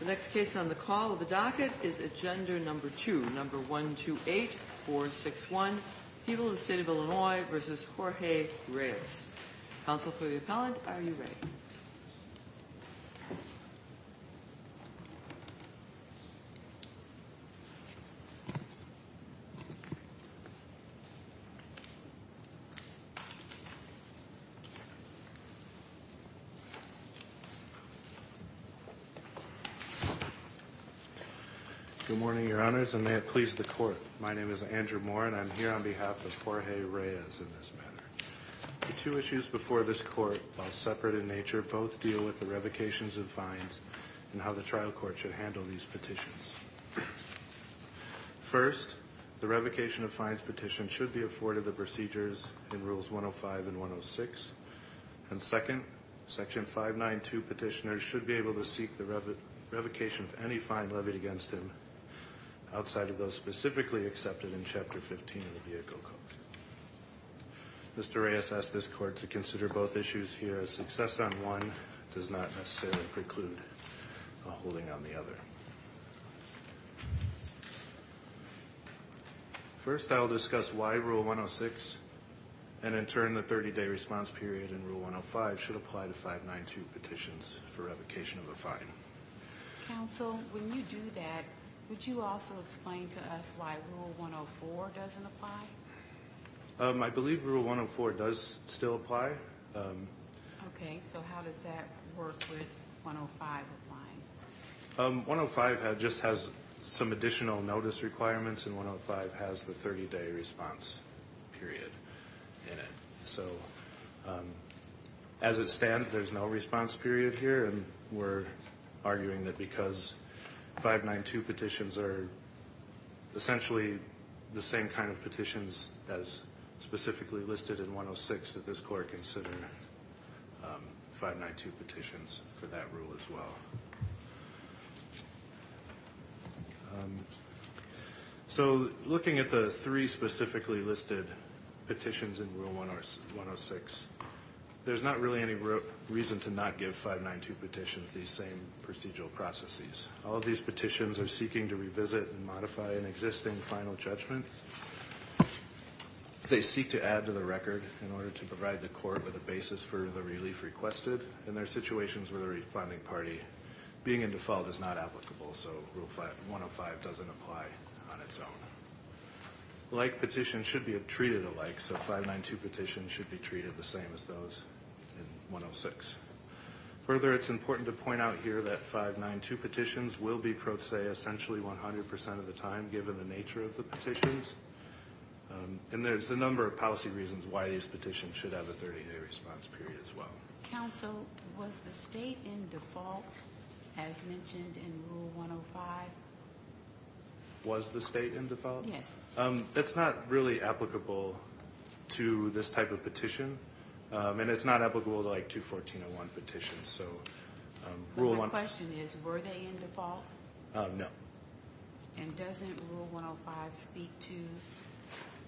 The next case on the call of the docket is Agenda No. 2, No. 128, Board 6-1, People of the State of Illinois v. Jorge Reyes. Counsel for the appellant, are you ready? Good morning, your honors, and may it please the court. My name is Andrew Moore and I'm here on behalf of Jorge Reyes in this matter. The two issues before this court, while separate in nature, both deal with the revocations of fines and how the trial court should handle these petitions. First, the revocation of fines petition should be afforded the procedures in Rules 105 and 106. And second, Section 592 petitioners should be able to seek the revocation of any fine levied against him outside of those specifically accepted in Chapter 15 of the Vehicle Code. Mr. Reyes asked this court to consider both issues here as success on one does not necessarily preclude a holding on the other. First, I'll discuss why Rule 106 and in turn the 30-day response period in Rule 105 should apply to 592 petitions for revocation of a fine. Counsel, when you do that, would you also explain to us why Rule 104 doesn't apply? I believe Rule 104 does still apply. Okay, so how does that work with 105 applying? 105 just has some additional notice requirements and 105 has the 30-day response period in it. So, as it stands, there's no response period here and we're arguing that because 592 petitions are essentially the same kind of petitions as specifically listed in 106, that this court consider 592 petitions for that rule as well. So, looking at the three specifically listed petitions in Rule 106, there's not really any reason to not give 592 petitions these same procedural processes. All of these petitions are seeking to revisit and modify an existing final judgment. They seek to add to the record in order to provide the court with a basis for the relief requested and there are situations where the apply on its own. Like petitions should be treated alike, so 592 petitions should be treated the same as those in 106. Further, it's important to point out here that 592 petitions will be pro se essentially 100% of the time given the nature of the petitions and there's a number of policy reasons why these petitions should have a 30-day response period as well. Counsel, was the state in default as mentioned in Rule 105? Was the state in default? Yes. That's not really applicable to this type of petition and it's not applicable to like 214.01 petitions, so Rule 105... My question is, were they in default? No. And doesn't Rule 105 speak to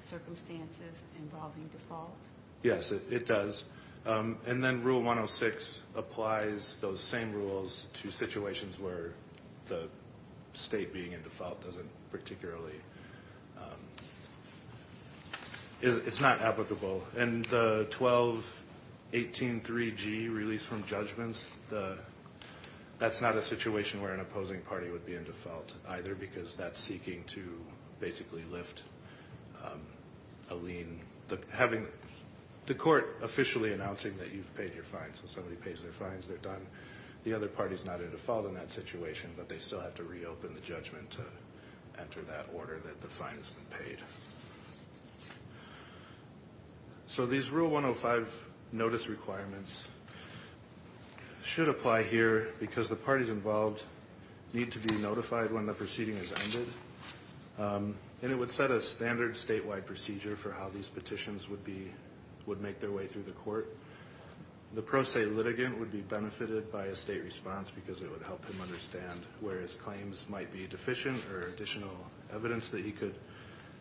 circumstances involving default? Yes, it does. And then Rule 106 applies those same rules to situations where the state being in default doesn't particularly... It's not applicable. And the 1218.3G release from judgments, that's not a situation where an individual is seeking to basically lift a lien. Having the court officially announcing that you've paid your fines, so somebody pays their fines, they're done. The other party's not in default in that situation, but they still have to reopen the judgment to enter that order that the fine's been paid. So these Rule 105 notice requirements should apply here because the parties involved need to be notified when the proceeding has ended. And it would set a standard statewide procedure for how these petitions would make their way through the court. The pro se litigant would be benefited by a state response because it would help him understand where his claims might be deficient or additional evidence that he could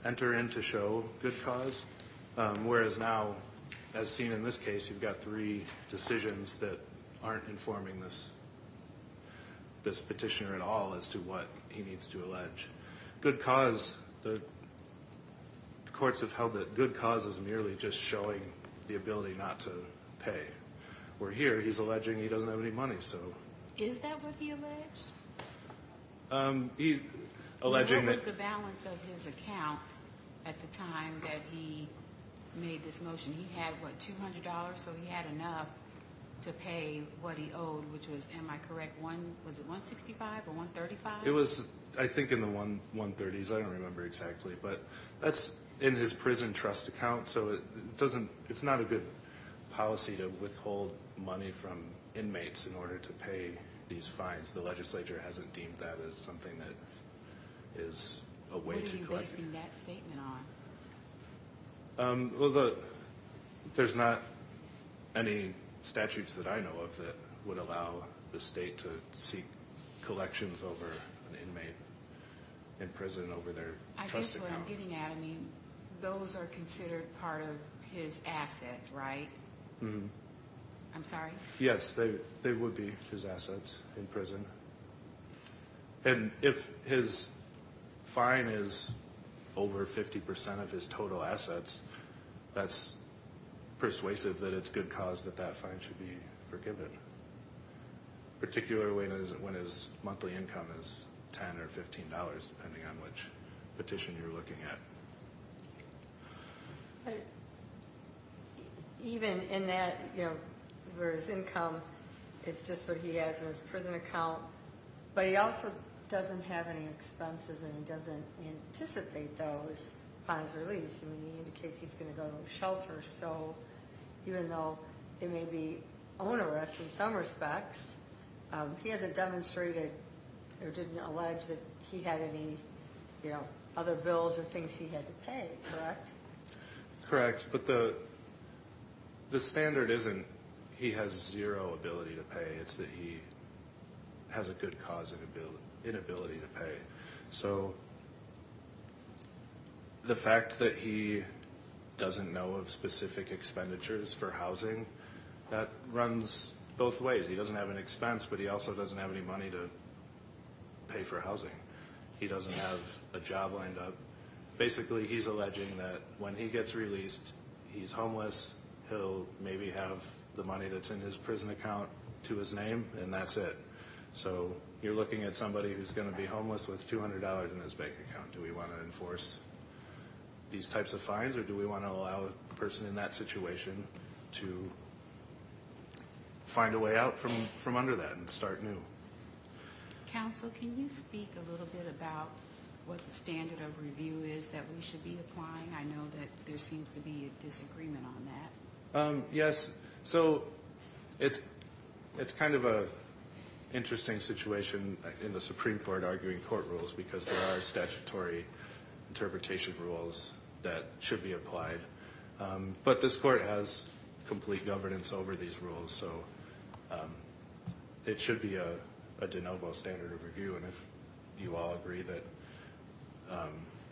enter in to show good cause. Whereas now, as seen in this case, you've got three decisions that aren't informing this petitioner at all as to what he needs to allege. Good cause, the courts have held that good cause is merely just showing the ability not to pay. Where here, he's alleging he doesn't have any money, so... Is that what he alleged? He's alleging that... What was the balance of his account at the time that he made this motion? He had, what, $200? So he had enough to pay what he owed, which was, am I correct, was it $165 or $135? It was, I think, in the $130s. I don't remember exactly. But that's in his prison trust account, so it's not a good policy to withhold money from inmates in order to pay these fines. The legislature hasn't deemed that as something that is a way to collect... What are you basing that statement on? Well, there's not any statutes that I know of that would allow the state to seek collections over an inmate in prison over their trust account. I guess what I'm getting at, I mean, those are considered part of his assets, right? Mm-hmm. I'm sorry? Yes, they would be his assets in prison. And if his fine is over 50% of his total assets, that's persuasive that it's good cause that that fine should be forgiven, particularly when his monthly income is $10 or $15, depending on which petition you're looking at. But even in that, you know, where his income is just what he has in his prison account, but he also doesn't have any expenses and he doesn't anticipate those fines released. I mean, he indicates he's going to go to a shelter, so even though it may be onerous in some respects, he hasn't demonstrated or didn't allege that he had any other bills or things he had to pay, correct? Correct. But the standard isn't he has zero ability to pay. It's that he has a good cause and inability to pay. So the fact that he doesn't know of specific expenditures for housing, that runs both ways. He doesn't have an expense, but he also doesn't have any money to pay for housing. He doesn't have a job lined up. Basically, he's alleging that when he gets released, he's homeless, he'll maybe have the money that's in his prison account to his name, and that's it. So you're looking at somebody who's going to be homeless with $200 in his bank account. Do we want to enforce these types of fines or do we want to allow a person in that situation to find a way out from under that and start new? Counsel, can you speak a little bit about what the standard of review is that we should be applying? I know that there seems to be a disagreement on that. Yes. So it's kind of an interesting situation in the Supreme Court arguing court rules because there are statutory interpretation rules that should be applied. But this court has complete governance over these rules, so it should be a de novo standard of review. And if you all agree that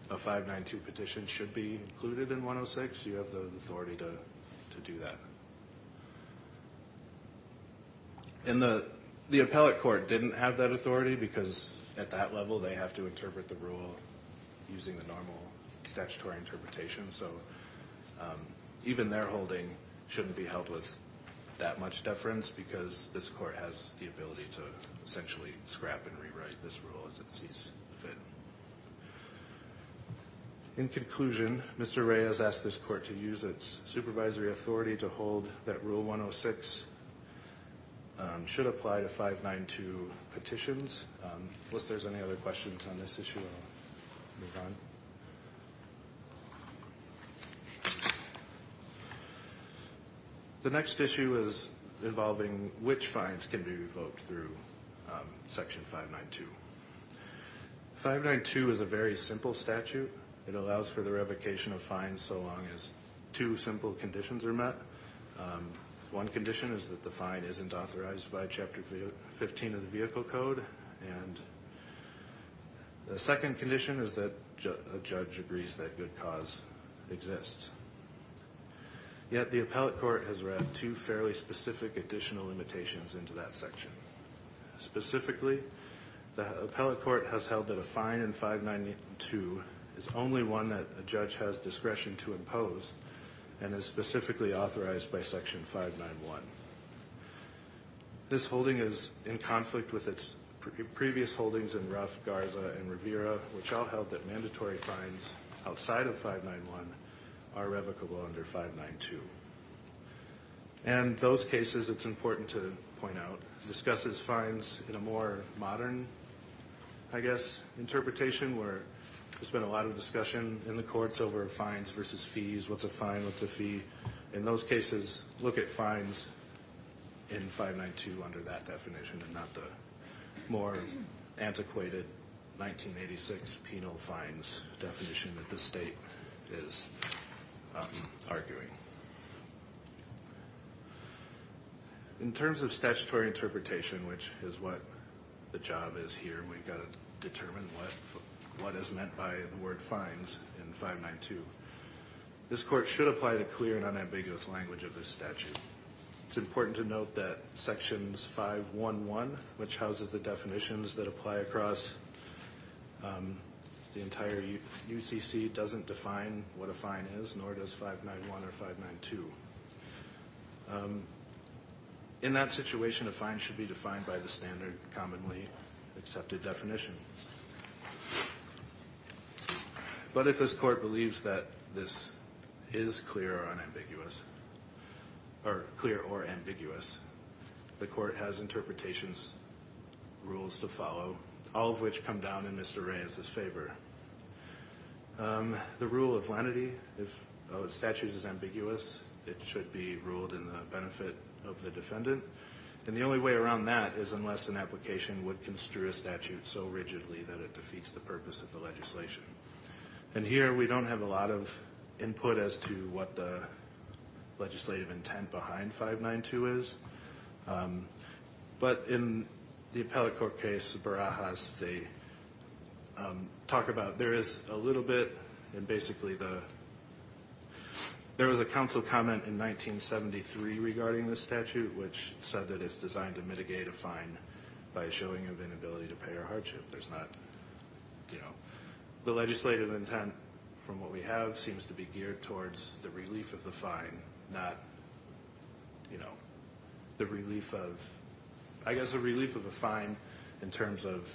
a 592 petition should be included in 106, you have the authority to do that. And the appellate court didn't have that authority because at that level, they have to interpret the rule using the normal statutory interpretation. So even their holding shouldn't be held with that much deference because this court has the ability to essentially scrap and rewrite this rule as it sees fit. In conclusion, Mr. Reyes asked this court to use its supervisory authority to hold that Rule 106 should apply to 592 petitions. Unless there's any other questions on this issue, I'll move on. The next issue is involving which fines can be revoked through Section 592. 592 is a very simple statute. It allows for the revocation of fines so long as two simple conditions are met. One condition is that the fine isn't authorized by Chapter 15 of the Vehicle Code. And the second condition is that a judge agrees that good cause exists. Yet the appellate court has wrapped two fairly specific additional limitations into that section. Specifically, the appellate court has held that a fine in 592 is only one that a judge has discretion to impose and is specifically authorized by Section 591. This holding is in conflict with its previous holdings in Ruff, Garza, and Rivera, which all held that mandatory fines outside of 591 are revocable under 592. And those cases, it's important to point out, discusses fines in a more modern, I guess, interpretation where there's been a lot of discussion in the courts over fines versus fees, what's a fine, what's a fee. In those cases, look at fines in 592 under that definition and not the more antiquated 1986 penal fines definition that the state is arguing. In terms of statutory interpretation, which is what the job is here, we've got to determine what is meant by the word fines in 592, this court should apply the clear and unambiguous language of this statute. It's important to note that Sections 511, which houses the definitions that apply across the entire UCC, doesn't define what a fine is, nor does 591 or 592. In that situation, a fine should be defined by the standard, commonly accepted definition. But if this court believes that this is clear or ambiguous, the court has interpretations, rules to follow, all of which come down in Mr. Reyes's favor. The rule of lenity, if a statute is ambiguous, it should be ruled in the benefit of the defendant. And the only way around that is unless an application would construe a statute so rigidly that it defeats the purpose of the legislation. And here we don't have a lot of input as to what the legislative intent behind 592 is. But in the appellate court case, Barajas, they talk about there is a little bit, and basically there was a council comment in 1973 regarding this statute, which said that it's designed to mitigate a fine by a showing of inability to pay or hardship. There's not, you know, the legislative intent from what we have seems to be geared towards the relief of the fine, not, you know, the relief of, I guess, the relief of a fine in terms of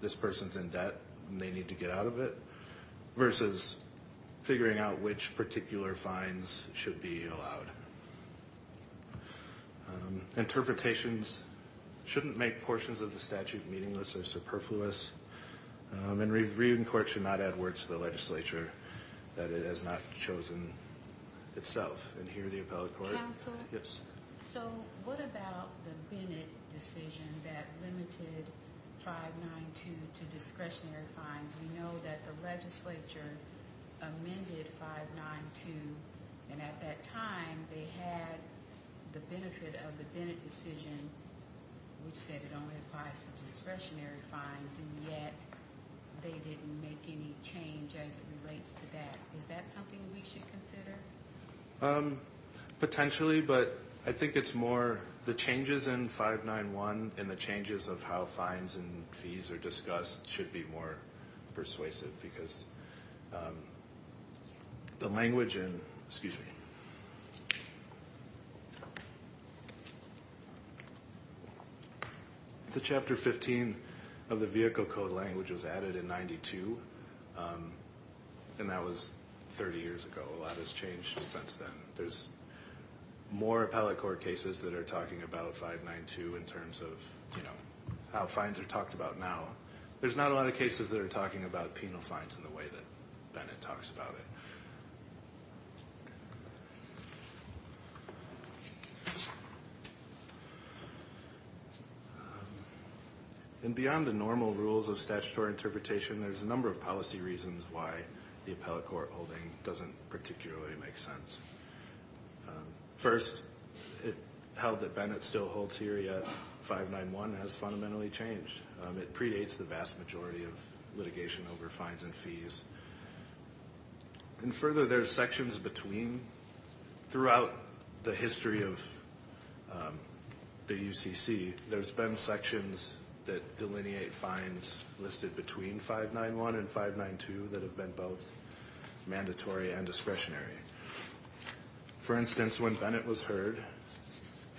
this person's in debt and they need to get out of it, versus figuring out which particular fines should be allowed. Interpretations shouldn't make portions of the statute meaningless or superfluous. And reading court should not add words to the legislature that it has not chosen itself. And here the appellate court- Counsel? Yes. So what about the Bennett decision that limited 592 to discretionary fines? We know that the legislature amended 592, and at that time they had the benefit of the Bennett decision, which said it only applies to discretionary fines, and yet they didn't make any change as it relates to that. Is that something we should consider? Potentially, but I think it's more the changes in 591 and the changes of how fines and fees are discussed should be more persuasive because the language in-excuse me. The Chapter 15 of the Vehicle Code language was added in 92, and that was 30 years ago. A lot has changed since then. There's more appellate court cases that are talking about 592 in terms of how fines are talked about now. There's not a lot of cases that are talking about penal fines in the way that Bennett talks about it. And beyond the normal rules of statutory interpretation, there's a number of policy reasons why the appellate court holding doesn't particularly make sense. First, it held that Bennett still holds here, yet 591 has fundamentally changed. It predates the vast majority of litigation over fines and fees. And further, there's sections between. Throughout the history of the UCC, there's been sections that delineate fines listed between 591 and 592 that have been both mandatory and discretionary. For instance, when Bennett was heard,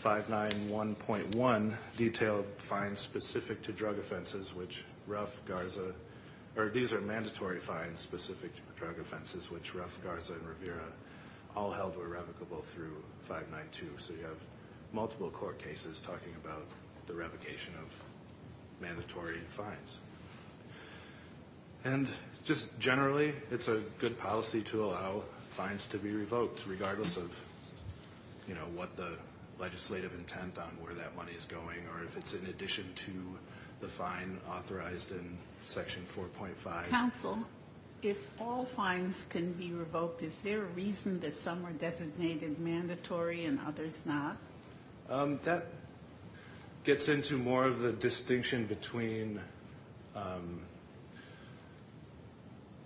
591.1 detailed fines specific to drug offenses, which Ruff, Garza, or these are mandatory fines specific to drug offenses, which Ruff, Garza, and Rivera all held were revocable through 592. So you have multiple court cases talking about the revocation of mandatory fines. And just generally, it's a good policy to allow fines to be revoked, regardless of what the legislative intent on where that money is going, or if it's in addition to the fine authorized in Section 4.5. Counsel, if all fines can be revoked, is there a reason that some are designated mandatory and others not? That gets into more of the distinction between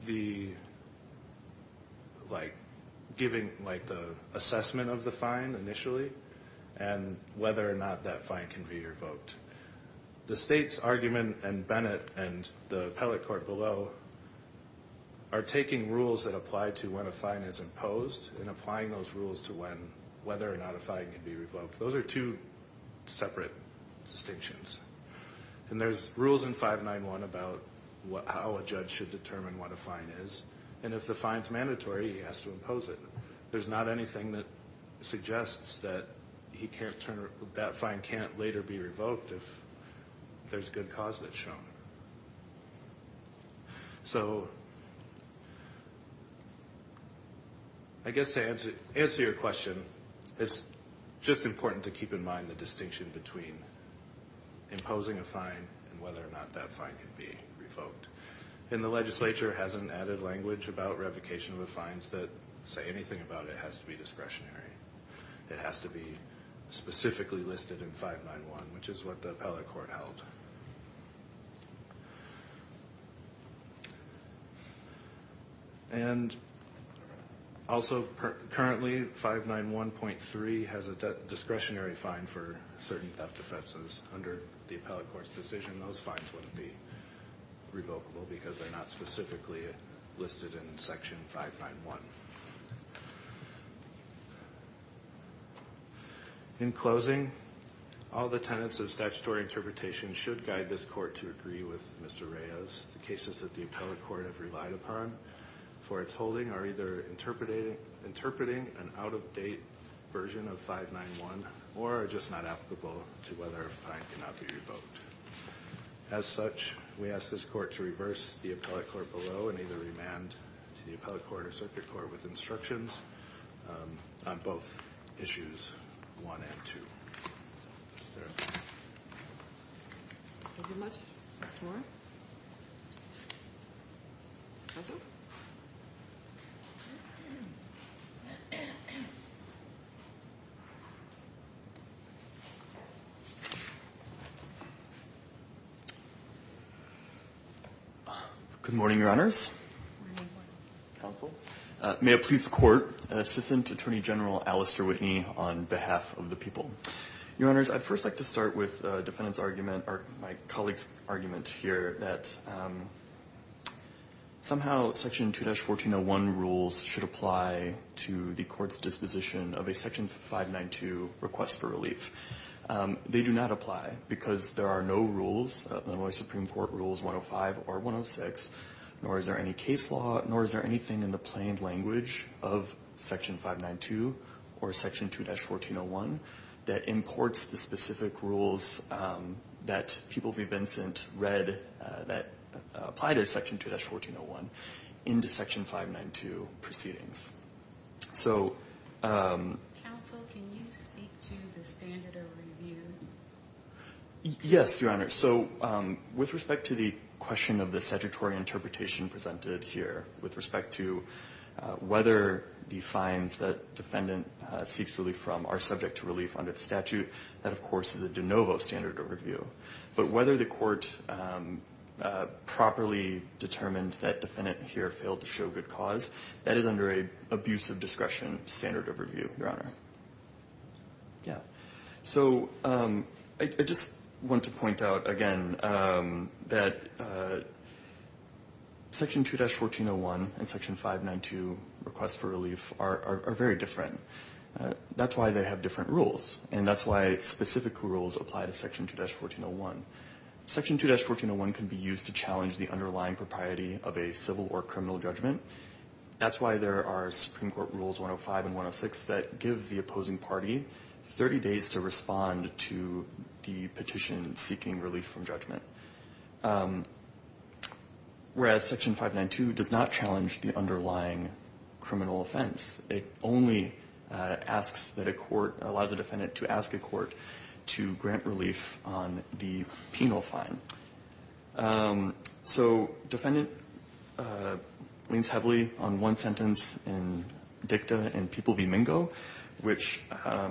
the assessment of the fine initially and whether or not that fine can be revoked. The state's argument, and Bennett and the appellate court below, are taking rules that apply to when a fine is imposed and applying those rules to whether or not a fine can be revoked. Those are two separate distinctions. And there's rules in 591.1 about how a judge should determine what a fine is, and if the fine's mandatory, he has to impose it. There's not anything that suggests that that fine can't later be revoked if there's good cause that's shown. So I guess to answer your question, it's just important to keep in mind the distinction between imposing a fine and whether or not that fine can be revoked. And the legislature has an added language about revocation of the fines that say anything about it has to be discretionary. It has to be specifically listed in 591, which is what the appellate court held. And also, currently, 591.3 has a discretionary fine for certain theft offenses. Under the appellate court's decision, those fines wouldn't be revocable because they're not specifically listed in Section 591. In closing, all the tenets of statutory interpretation should guide this court to agree with Mr. Reyes. The cases that the appellate court have relied upon for its holding are either interpreting an out-of-date version of 591 or are just not applicable to whether a fine cannot be revoked. As such, we ask this court to reverse the appellate court below and either remand to the appellate court or circuit court with instructions on both issues 1 and 2. Is there a question? Thank you much. Any more? Nothing? Thank you. Good morning, Your Honors. Good morning, Counsel. May it please the Court, Assistant Attorney General Alistair Whitney on behalf of the people. Your Honors, I'd first like to start with a defendant's argument or my colleague's argument here that somehow Section 2-1401 rules should apply to the court's disposition of a Section 592 request for relief. They do not apply because there are no rules, nor are Supreme Court Rules 105 or 106, nor is there any case law, nor is there anything in the plain language of Section 592 or Section 2-1401 that imports the specific rules that People v. Vincent read that apply to Section 2-1401 into Section 592 proceedings. Counsel, can you speak to the standard of review? Yes, Your Honors. So with respect to the question of the statutory interpretation presented here, with respect to whether the fines that defendant seeks relief from are subject to relief under the statute, that, of course, is a de novo standard of review. But whether the court properly determined that defendant here failed to show good cause, that is under an abuse of discretion standard of review, Your Honor. So I just want to point out again that Section 2-1401 and Section 592 requests for relief are very different. That's why they have different rules, and that's why specific rules apply to Section 2-1401. Section 2-1401 can be used to challenge the underlying propriety of a civil or criminal judgment. That's why there are Supreme Court Rules 105 and 106 that give the opposing party 30 days to respond to the petition seeking relief from judgment, whereas Section 592 does not challenge the underlying criminal offense. It only asks that a court allows a defendant to ask a court to grant relief on the penal fine. So defendant leans heavily on one sentence in dicta in People v. Mingo, which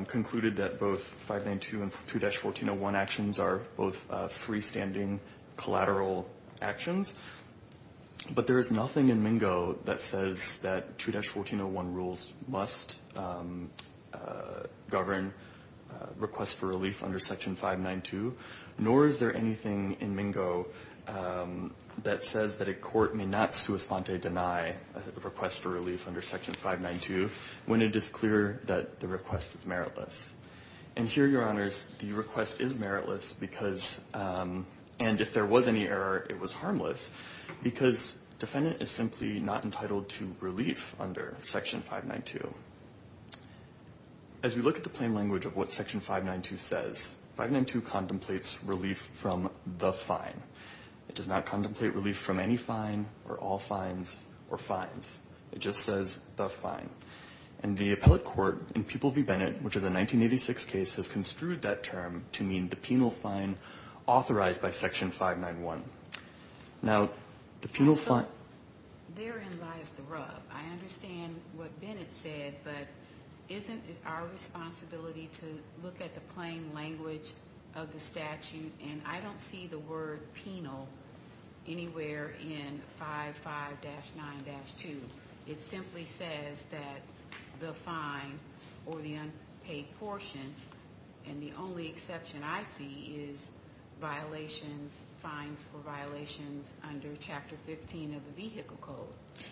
concluded that both 592 and 2-1401 actions are both freestanding collateral actions. But there is nothing in Mingo that says that 2-1401 rules must govern requests for relief under Section 592, nor is there anything in Mingo that says that a court may not sua sponte deny a request for relief under Section 592 when it is clear that the request is meritless. And here, Your Honors, the request is meritless because, and if there was any error, it was harmless because defendant is simply not entitled to relief under Section 592. As we look at the plain language of what Section 592 says, 592 contemplates relief from the fine. It does not contemplate relief from any fine or all fines or fines. It just says the fine. And the appellate court in People v. Bennett, which is a 1986 case, has construed that term to mean the penal fine authorized by Section 591. Now, the penal fine. Therein lies the rub. I understand what Bennett said, but isn't it our responsibility to look at the plain language of the statute? And I don't see the word penal anywhere in 55-9-2. It simply says that the fine or the unpaid portion, and the only exception I see, is violations, fines for violations under Chapter 15 of the Vehicle Code.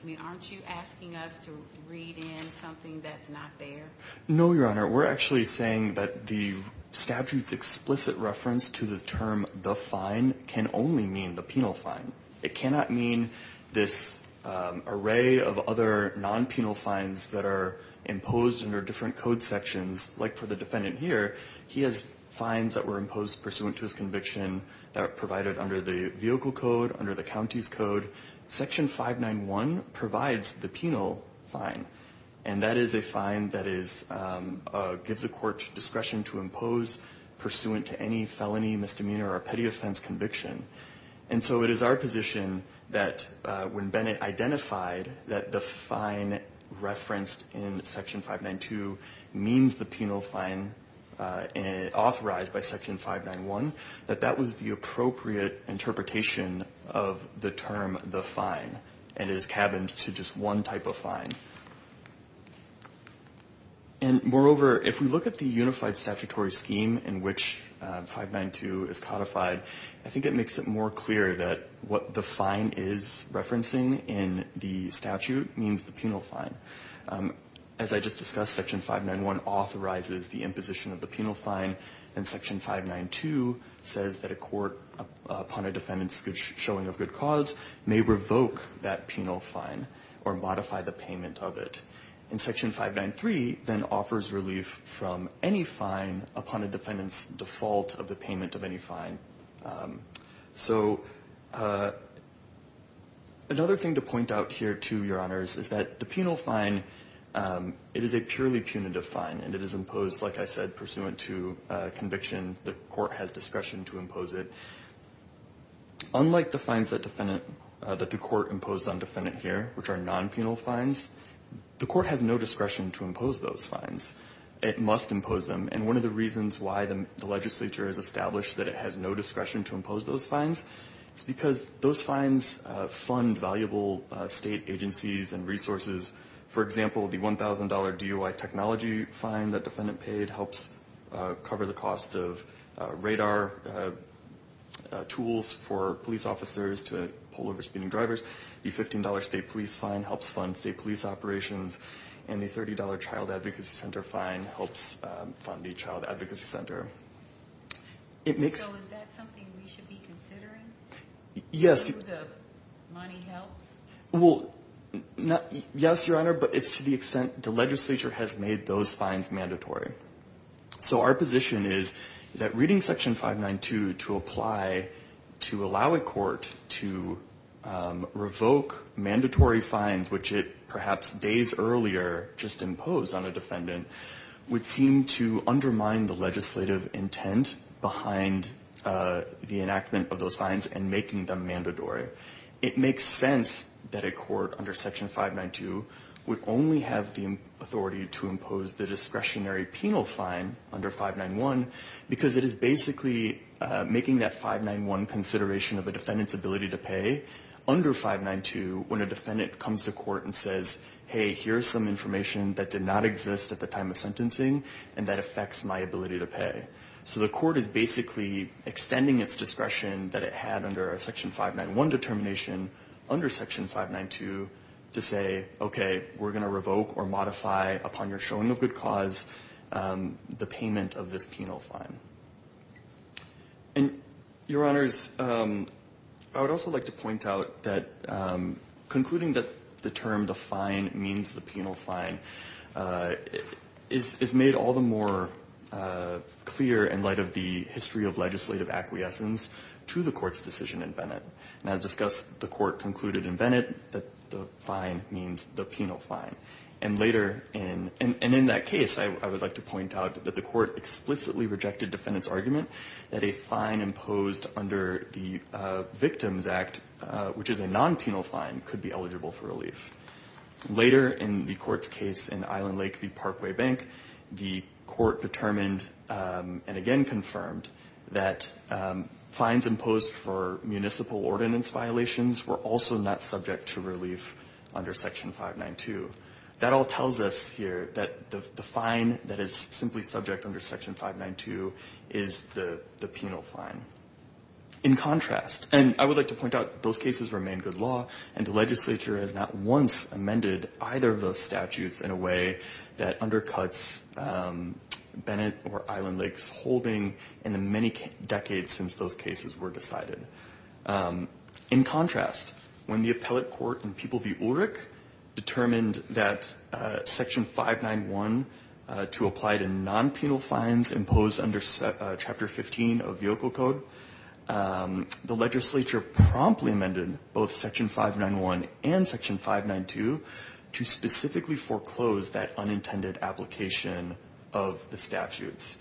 I mean, aren't you asking us to read in something that's not there? No, Your Honor. We're actually saying that the statute's explicit reference to the term the fine can only mean the penal fine. It cannot mean this array of other non-penal fines that are imposed under different code sections. Like for the defendant here, he has fines that were imposed pursuant to his conviction that are provided under the Vehicle Code, under the county's code. Section 591 provides the penal fine. And that is a fine that gives the court discretion to impose pursuant to any felony, misdemeanor, or petty offense conviction. And so it is our position that when Bennett identified that the fine referenced in Section 592 means the penal fine authorized by Section 591, that that was the appropriate interpretation of the term the fine, and it is cabined to just one type of fine. And moreover, if we look at the unified statutory scheme in which 592 is codified, I think it makes it more clear that what the fine is referencing in the statute means the penal fine. As I just discussed, Section 591 authorizes the imposition of the penal fine, and Section 592 says that a court upon a defendant's showing of good cause may revoke that penal fine or modify the payment of it. And Section 593 then offers relief from any fine upon a defendant's default of the payment of any fine. So another thing to point out here, too, Your Honors, is that the penal fine, it is a purely punitive fine, and it is imposed, like I said, pursuant to conviction. The court has discretion to impose it. Unlike the fines that defendant the court imposed on defendant here, which are non-penal fines, the court has no discretion to impose those fines. It must impose them. And one of the reasons why the legislature has established that it has no discretion to impose those fines is because those fines fund valuable state agencies and resources. For example, the $1,000 DOI technology fine that defendant paid helps cover the cost of radar tools for police officers to pull over speeding drivers. The $15 state police fine helps fund state police operations. And the $30 Child Advocacy Center fine helps fund the Child Advocacy Center. It makes So is that something we should be considering? Yes. Do the money help? Well, yes, Your Honor, but it's to the extent the legislature has made those fines mandatory. So our position is that reading Section 592 to apply to allow a court to revoke mandatory fines, which it perhaps days earlier just imposed on a defendant, would seem to undermine the legislative intent behind the enactment of those fines and making them mandatory. It makes sense that a court under Section 592 would only have the authority to impose the discretionary penal fine under 591 because it is basically making that 591 consideration of a defendant's ability to pay under 592 when a defendant comes to court and says, hey, here's some information that did not exist at the time of sentencing and that affects my ability to pay. So the court is basically extending its discretion that it had under a Section 591 determination under Section 592 to say, okay, we're going to revoke or modify upon your showing of good cause the payment of this penal fine. And, Your Honors, I would also like to point out that concluding that the term the fine means the penal fine is made all the more clear in light of the history of legislative acquiescence to the Court's decision in Bennett. And as discussed, the Court concluded in Bennett that the fine means the penal fine. And later in that case, I would like to point out that the Court explicitly rejected defendants' argument that a fine imposed under the Victims Act, which is a non-penal fine, could be eligible for relief. Later in the Court's case in Island Lake v. Parkway Bank, the Court determined and again confirmed that fines imposed for municipal ordinance violations were also not subject to relief under Section 592. That all tells us here that the fine that is simply subject under Section 592 is the penal fine. In contrast, and I would like to point out those cases remain good law, and the legislature has not once amended either of those statutes in a way that undercuts Bennett or Island Lake's holding in the many decades since those cases were decided. In contrast, when the appellate court in People v. Ulrich determined that Section 591 to apply to non-penal fines imposed under Chapter 15 of Yoko Code, the legislature promptly amended both Section 591 and Section 592 to specifically foreclose that unintended application of the statutes.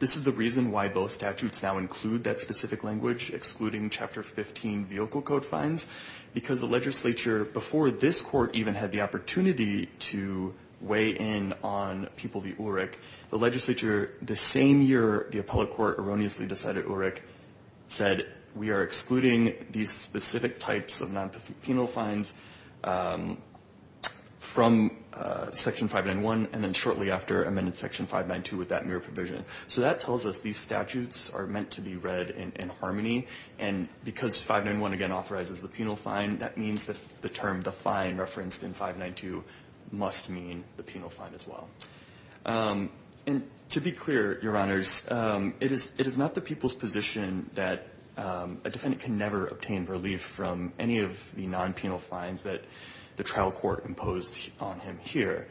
This is the reason why both statutes now include that specific language, excluding Chapter 15 Yoko Code fines, because the legislature before this Court even had the opportunity to weigh in on People v. Ulrich, the legislature the same year the appellate court erroneously decided Ulrich said we are excluding these specific types of non-penal fines. So that tells us these statutes are meant to be read in harmony, and because 591 again authorizes the penal fine, that means the term the fine referenced in 592 must mean the penal fine as well. To be clear, Your Honors, it is not the people's position that a defendant can never obtain relief from any of the non-penal fines that the trial court imposed on him here.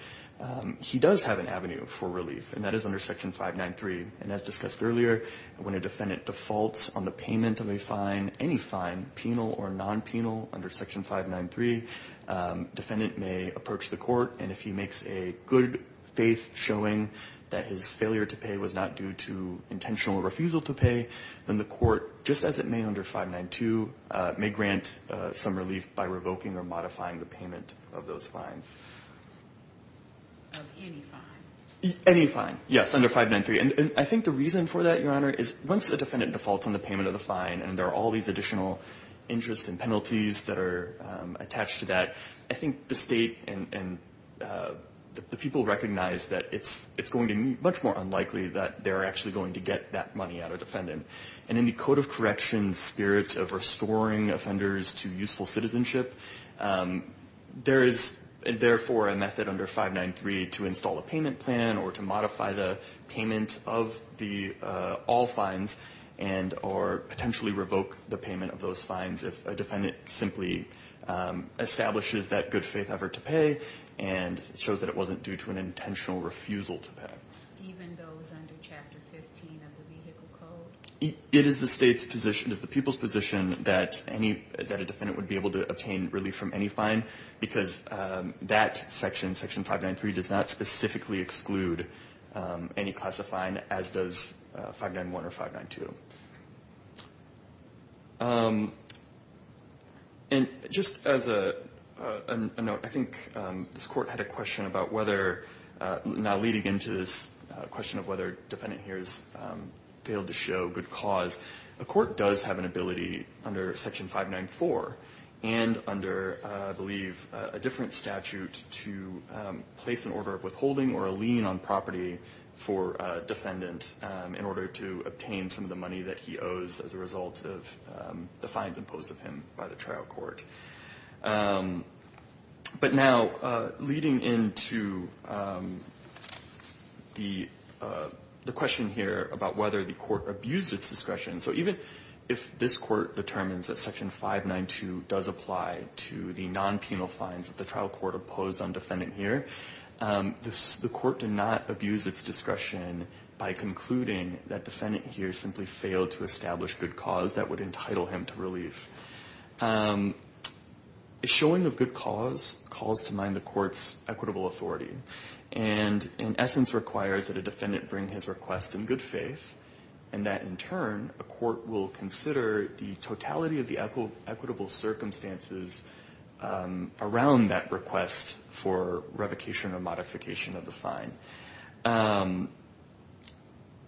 He does have an avenue for relief, and that is under Section 593, and as discussed earlier, when a defendant defaults on the payment of any fine, penal or non-penal, under Section 593, the defendant may approach the court, and if he makes a good faith showing that his failure to pay was not due to intentional refusal to pay, then the court, just as it may under 592, may grant some relief by revoking or modifying the payment of those fines. Any fine. Any fine, yes, under 593. And I think the reason for that, Your Honor, is once a defendant defaults on the payment of the fine and there are all these additional interest and penalties that are attached to that, I think the State and the people recognize that it's going to be much more unlikely that they're actually going to get that money out of the defendant. And in the code of corrections spirit of restoring offenders to useful citizenship, there is, therefore, a method under 593 to install a payment plan or to modify the payment of the all fines and or potentially revoke the payment of those fines if a defendant simply establishes that good faith effort to pay and shows that it wasn't due to an intentional refusal to pay. Even those under Chapter 15 of the vehicle code? It is the State's position, it is the people's position that any, that a defendant would be able to obtain relief from any fine because that section, Section 593, does not specifically exclude any class of fine as does 591 or 592. And just as a note, I think this court had a question about whether, now leading into this question of whether the defendant here has failed to show good cause, the court does have an ability under Section 594 and under, I believe, a different statute to place an order of withholding or a lien on property for a defendant in order to obtain some of the money that he owes as a result of the fines imposed of him by the trial court. The question here about whether the court abused its discretion, so even if this court determines that Section 592 does apply to the non-penal fines that the trial court imposed on the defendant here, the court did not abuse its discretion by concluding that defendant here simply failed to establish good cause that would entitle him to relief. The showing of good cause calls to mind the court's equitable authority. And, in essence, requires that a defendant bring his request in good faith, and that, in turn, a court will consider the totality of the equitable circumstances around that request for revocation or modification of the fine.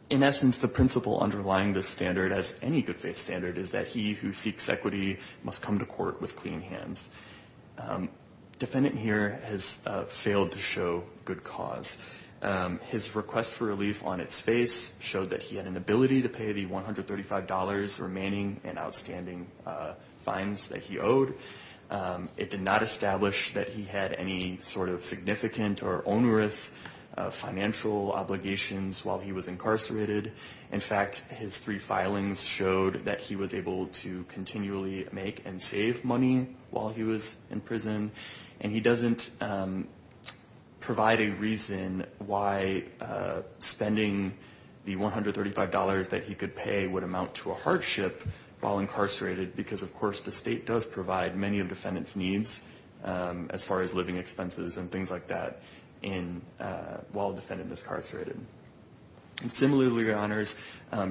In essence, the principle underlying this standard, as any good faith standard, is that he who seeks equity must come to court with clean hands. Defendant here has failed to show good cause. His request for relief on its face showed that he had an ability to pay the $135 remaining and outstanding fines that he owed. It did not establish that he had any sort of significant or onerous financial obligations while he was incarcerated. In fact, his three filings showed that he was able to continually make and save money while he was in prison. And he doesn't provide a reason why spending the $135 that he could pay would amount to a hardship while incarcerated, because, of course, the state does provide many of defendant's needs as far as living expenses and things like that while a defendant is incarcerated. And similarly, Your Honors,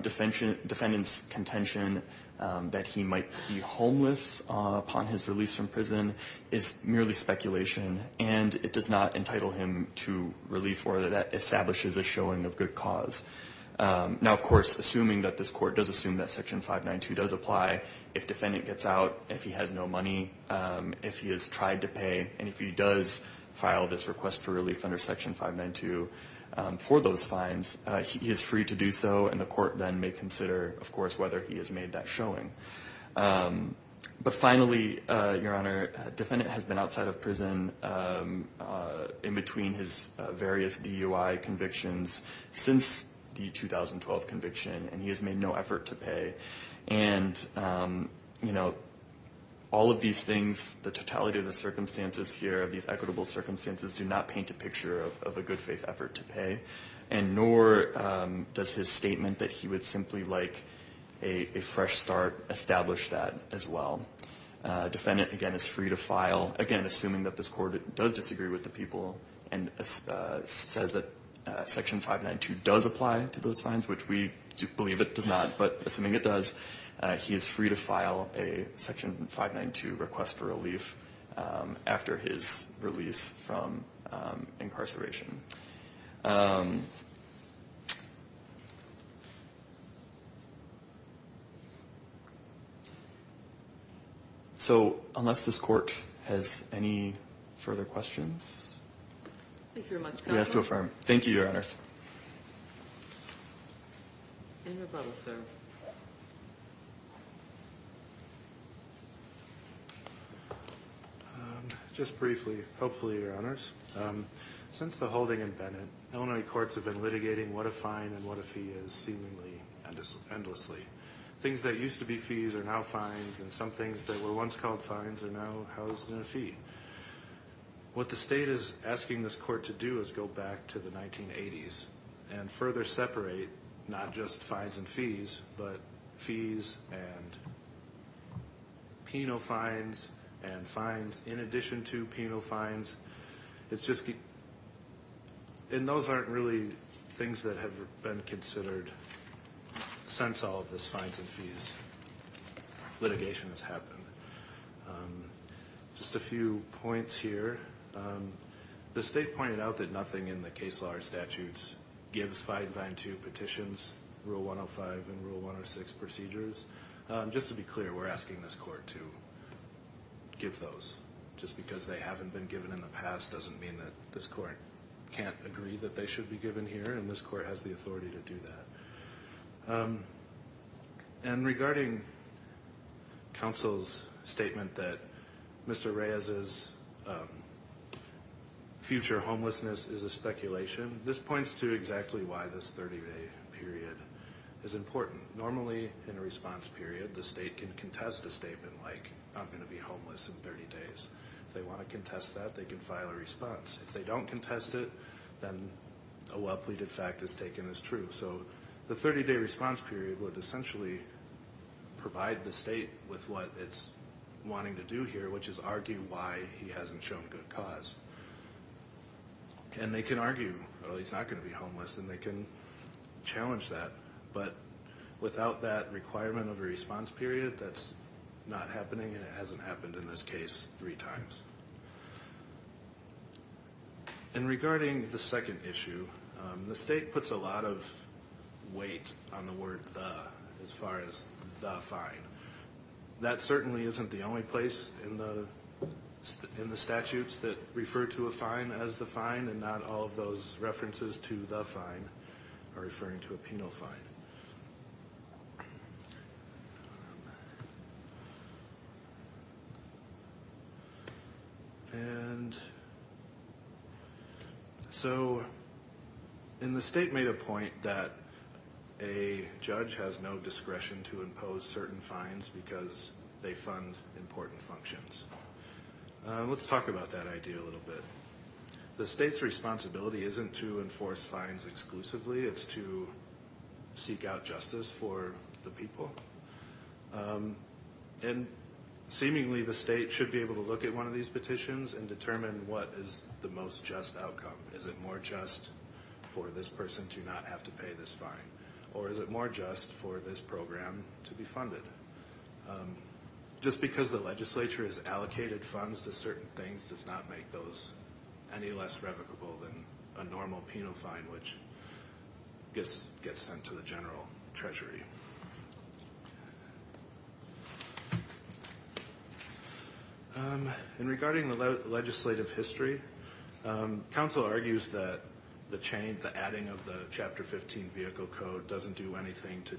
defendant's contention that he might be homeless upon his release from prison is merely speculation, and it does not entitle him to relief or that establishes a showing of good cause. Now, of course, assuming that this court does assume that Section 592 does apply, if you file this request for relief under Section 592 for those fines, he is free to do so, and the court then may consider, of course, whether he has made that showing. But finally, Your Honor, defendant has been outside of prison in between his various DUI convictions since the 2012 conviction, and he has made no effort to pay. And, you know, all of these things, the totality of the circumstances here, these equitable circumstances, do not paint a picture of a good faith effort to pay, and nor does his statement that he would simply like a fresh start establish that as well. Defendant, again, is free to file, again, assuming that this court does disagree with the people and says that Section 592 does apply to those fines, which we believe it does not, but assuming it does, he is free to file a Section 592 for his release from incarceration. So unless this court has any further questions, we ask to affirm. In rebuttal, sir. Just briefly, hopefully, Your Honors. Since the holding in Bennett, Illinois courts have been litigating what a fine and what a fee is seemingly endlessly. Things that used to be fees are now fines, and some things that were once called fines are now housed in a fee. What the state is asking this court to do is go back to the 1980s and further separate not just fines and fees, but fees and penal fines and fines in addition to penal fines. And those aren't really things that have been considered since all of this fines and fees litigation has happened. Just a few points here. The state pointed out that nothing in the case law or statutes gives 592 petitions, Rule 105 and Rule 106 procedures. Just to be clear, we're asking this court to give those. Just because they haven't been given in the past doesn't mean that this court can't agree that they should be given here, and this court has the authority to do that. And regarding counsel's statement that Mr. Reyes' future homelessness is a speculation, this points to exactly why this 30-day period is important. Normally, in a response period, the state can contest a statement like, I'm going to be homeless in 30 days. If they want to contest that, they can file a response. If they don't contest it, then a well-pleaded fact is taken as true. So the 30-day response period would essentially provide the state with what it's wanting to do here, which is argue why he hasn't shown good cause. And they can argue, oh, he's not going to be homeless, and they can challenge that. But without that requirement of a response period, that's not happening, and it hasn't happened in this case three times. And regarding the second issue, the state puts a lot of weight on the word the as far as the fine. That certainly isn't the only place in the statutes that refer to a fine as the fine, and not all of those references to the fine are referring to a penal fine. And so the state made a point that a judge has no discretion to impose certain fines because they fund important functions. Let's talk about that idea a little bit. The state's responsibility isn't to enforce fines exclusively. It's to seek out justice for the people. And seemingly the state should be able to look at one of these petitions and determine what is the most just outcome. Is it more just for this person to not have to pay this fine? Or is it more just for this program to be funded? Just because the legislature has allocated funds to certain things does not make those any less revocable than a normal penal fine, which gets sent to the general treasury. And regarding the legislative history, counsel argues that the adding of the Chapter 15 Vehicle Code doesn't do anything to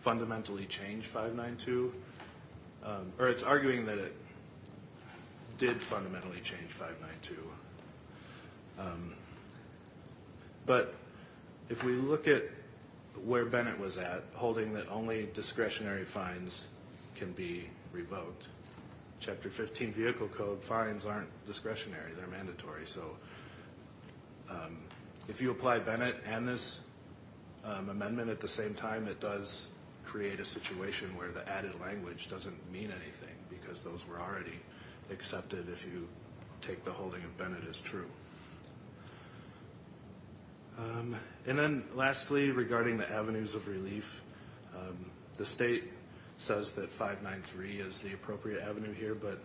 fundamentally change 592. Or it's arguing that it did fundamentally change 592. But if we look at where Bennett was at, it's a holding that only discretionary fines can be revoked. Chapter 15 Vehicle Code fines aren't discretionary, they're mandatory. So if you apply Bennett and this amendment at the same time, it does create a situation where the added language doesn't mean anything because those were already accepted if you take the holding of Bennett as true. And then lastly, regarding the avenues of relief, the state says that 593 is the appropriate avenue here, but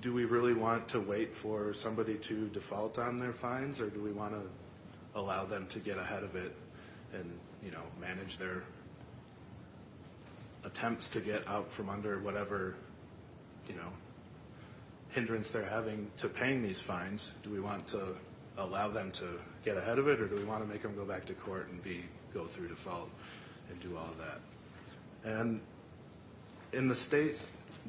do we really want to wait for somebody to default on their fines? Or do we want to allow them to get ahead of it and manage their attempts to get out from under whatever hindrance they're having to paying these fines? Do we want to allow them to get ahead of it or do we want to make them go back to court and go through default and do all that? And the state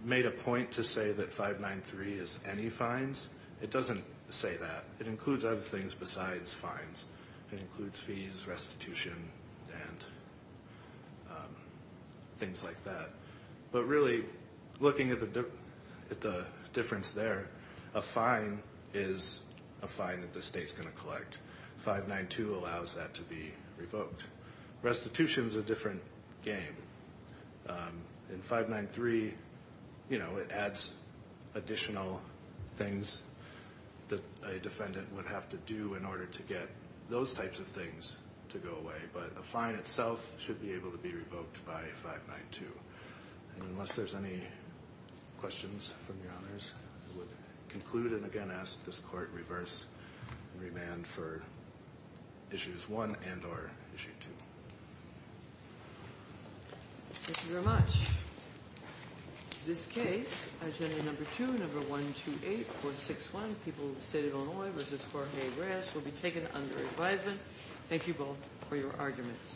made a point to say that 593 is any fines. It doesn't say that. It includes other things besides fines. It includes fees, restitution, and things like that. But really, looking at the difference there, a fine is a fine that the state's going to collect. 592 allows that to be revoked. Restitution's a different game. In 593, it adds additional things that a defendant would have to do in order to get those types of things to go away, but a fine itself should be able to be revoked by 592. And unless there's any questions from Your Honors, I would conclude and again ask this Court to reverse and remand for Issues 1 and or Issue 2. Thank you very much. This case, Agenda Number 2, Number 128, Court 6-1, People, State of Illinois v. Jorge Reyes, will be taken under advisement. Thank you both for your arguments.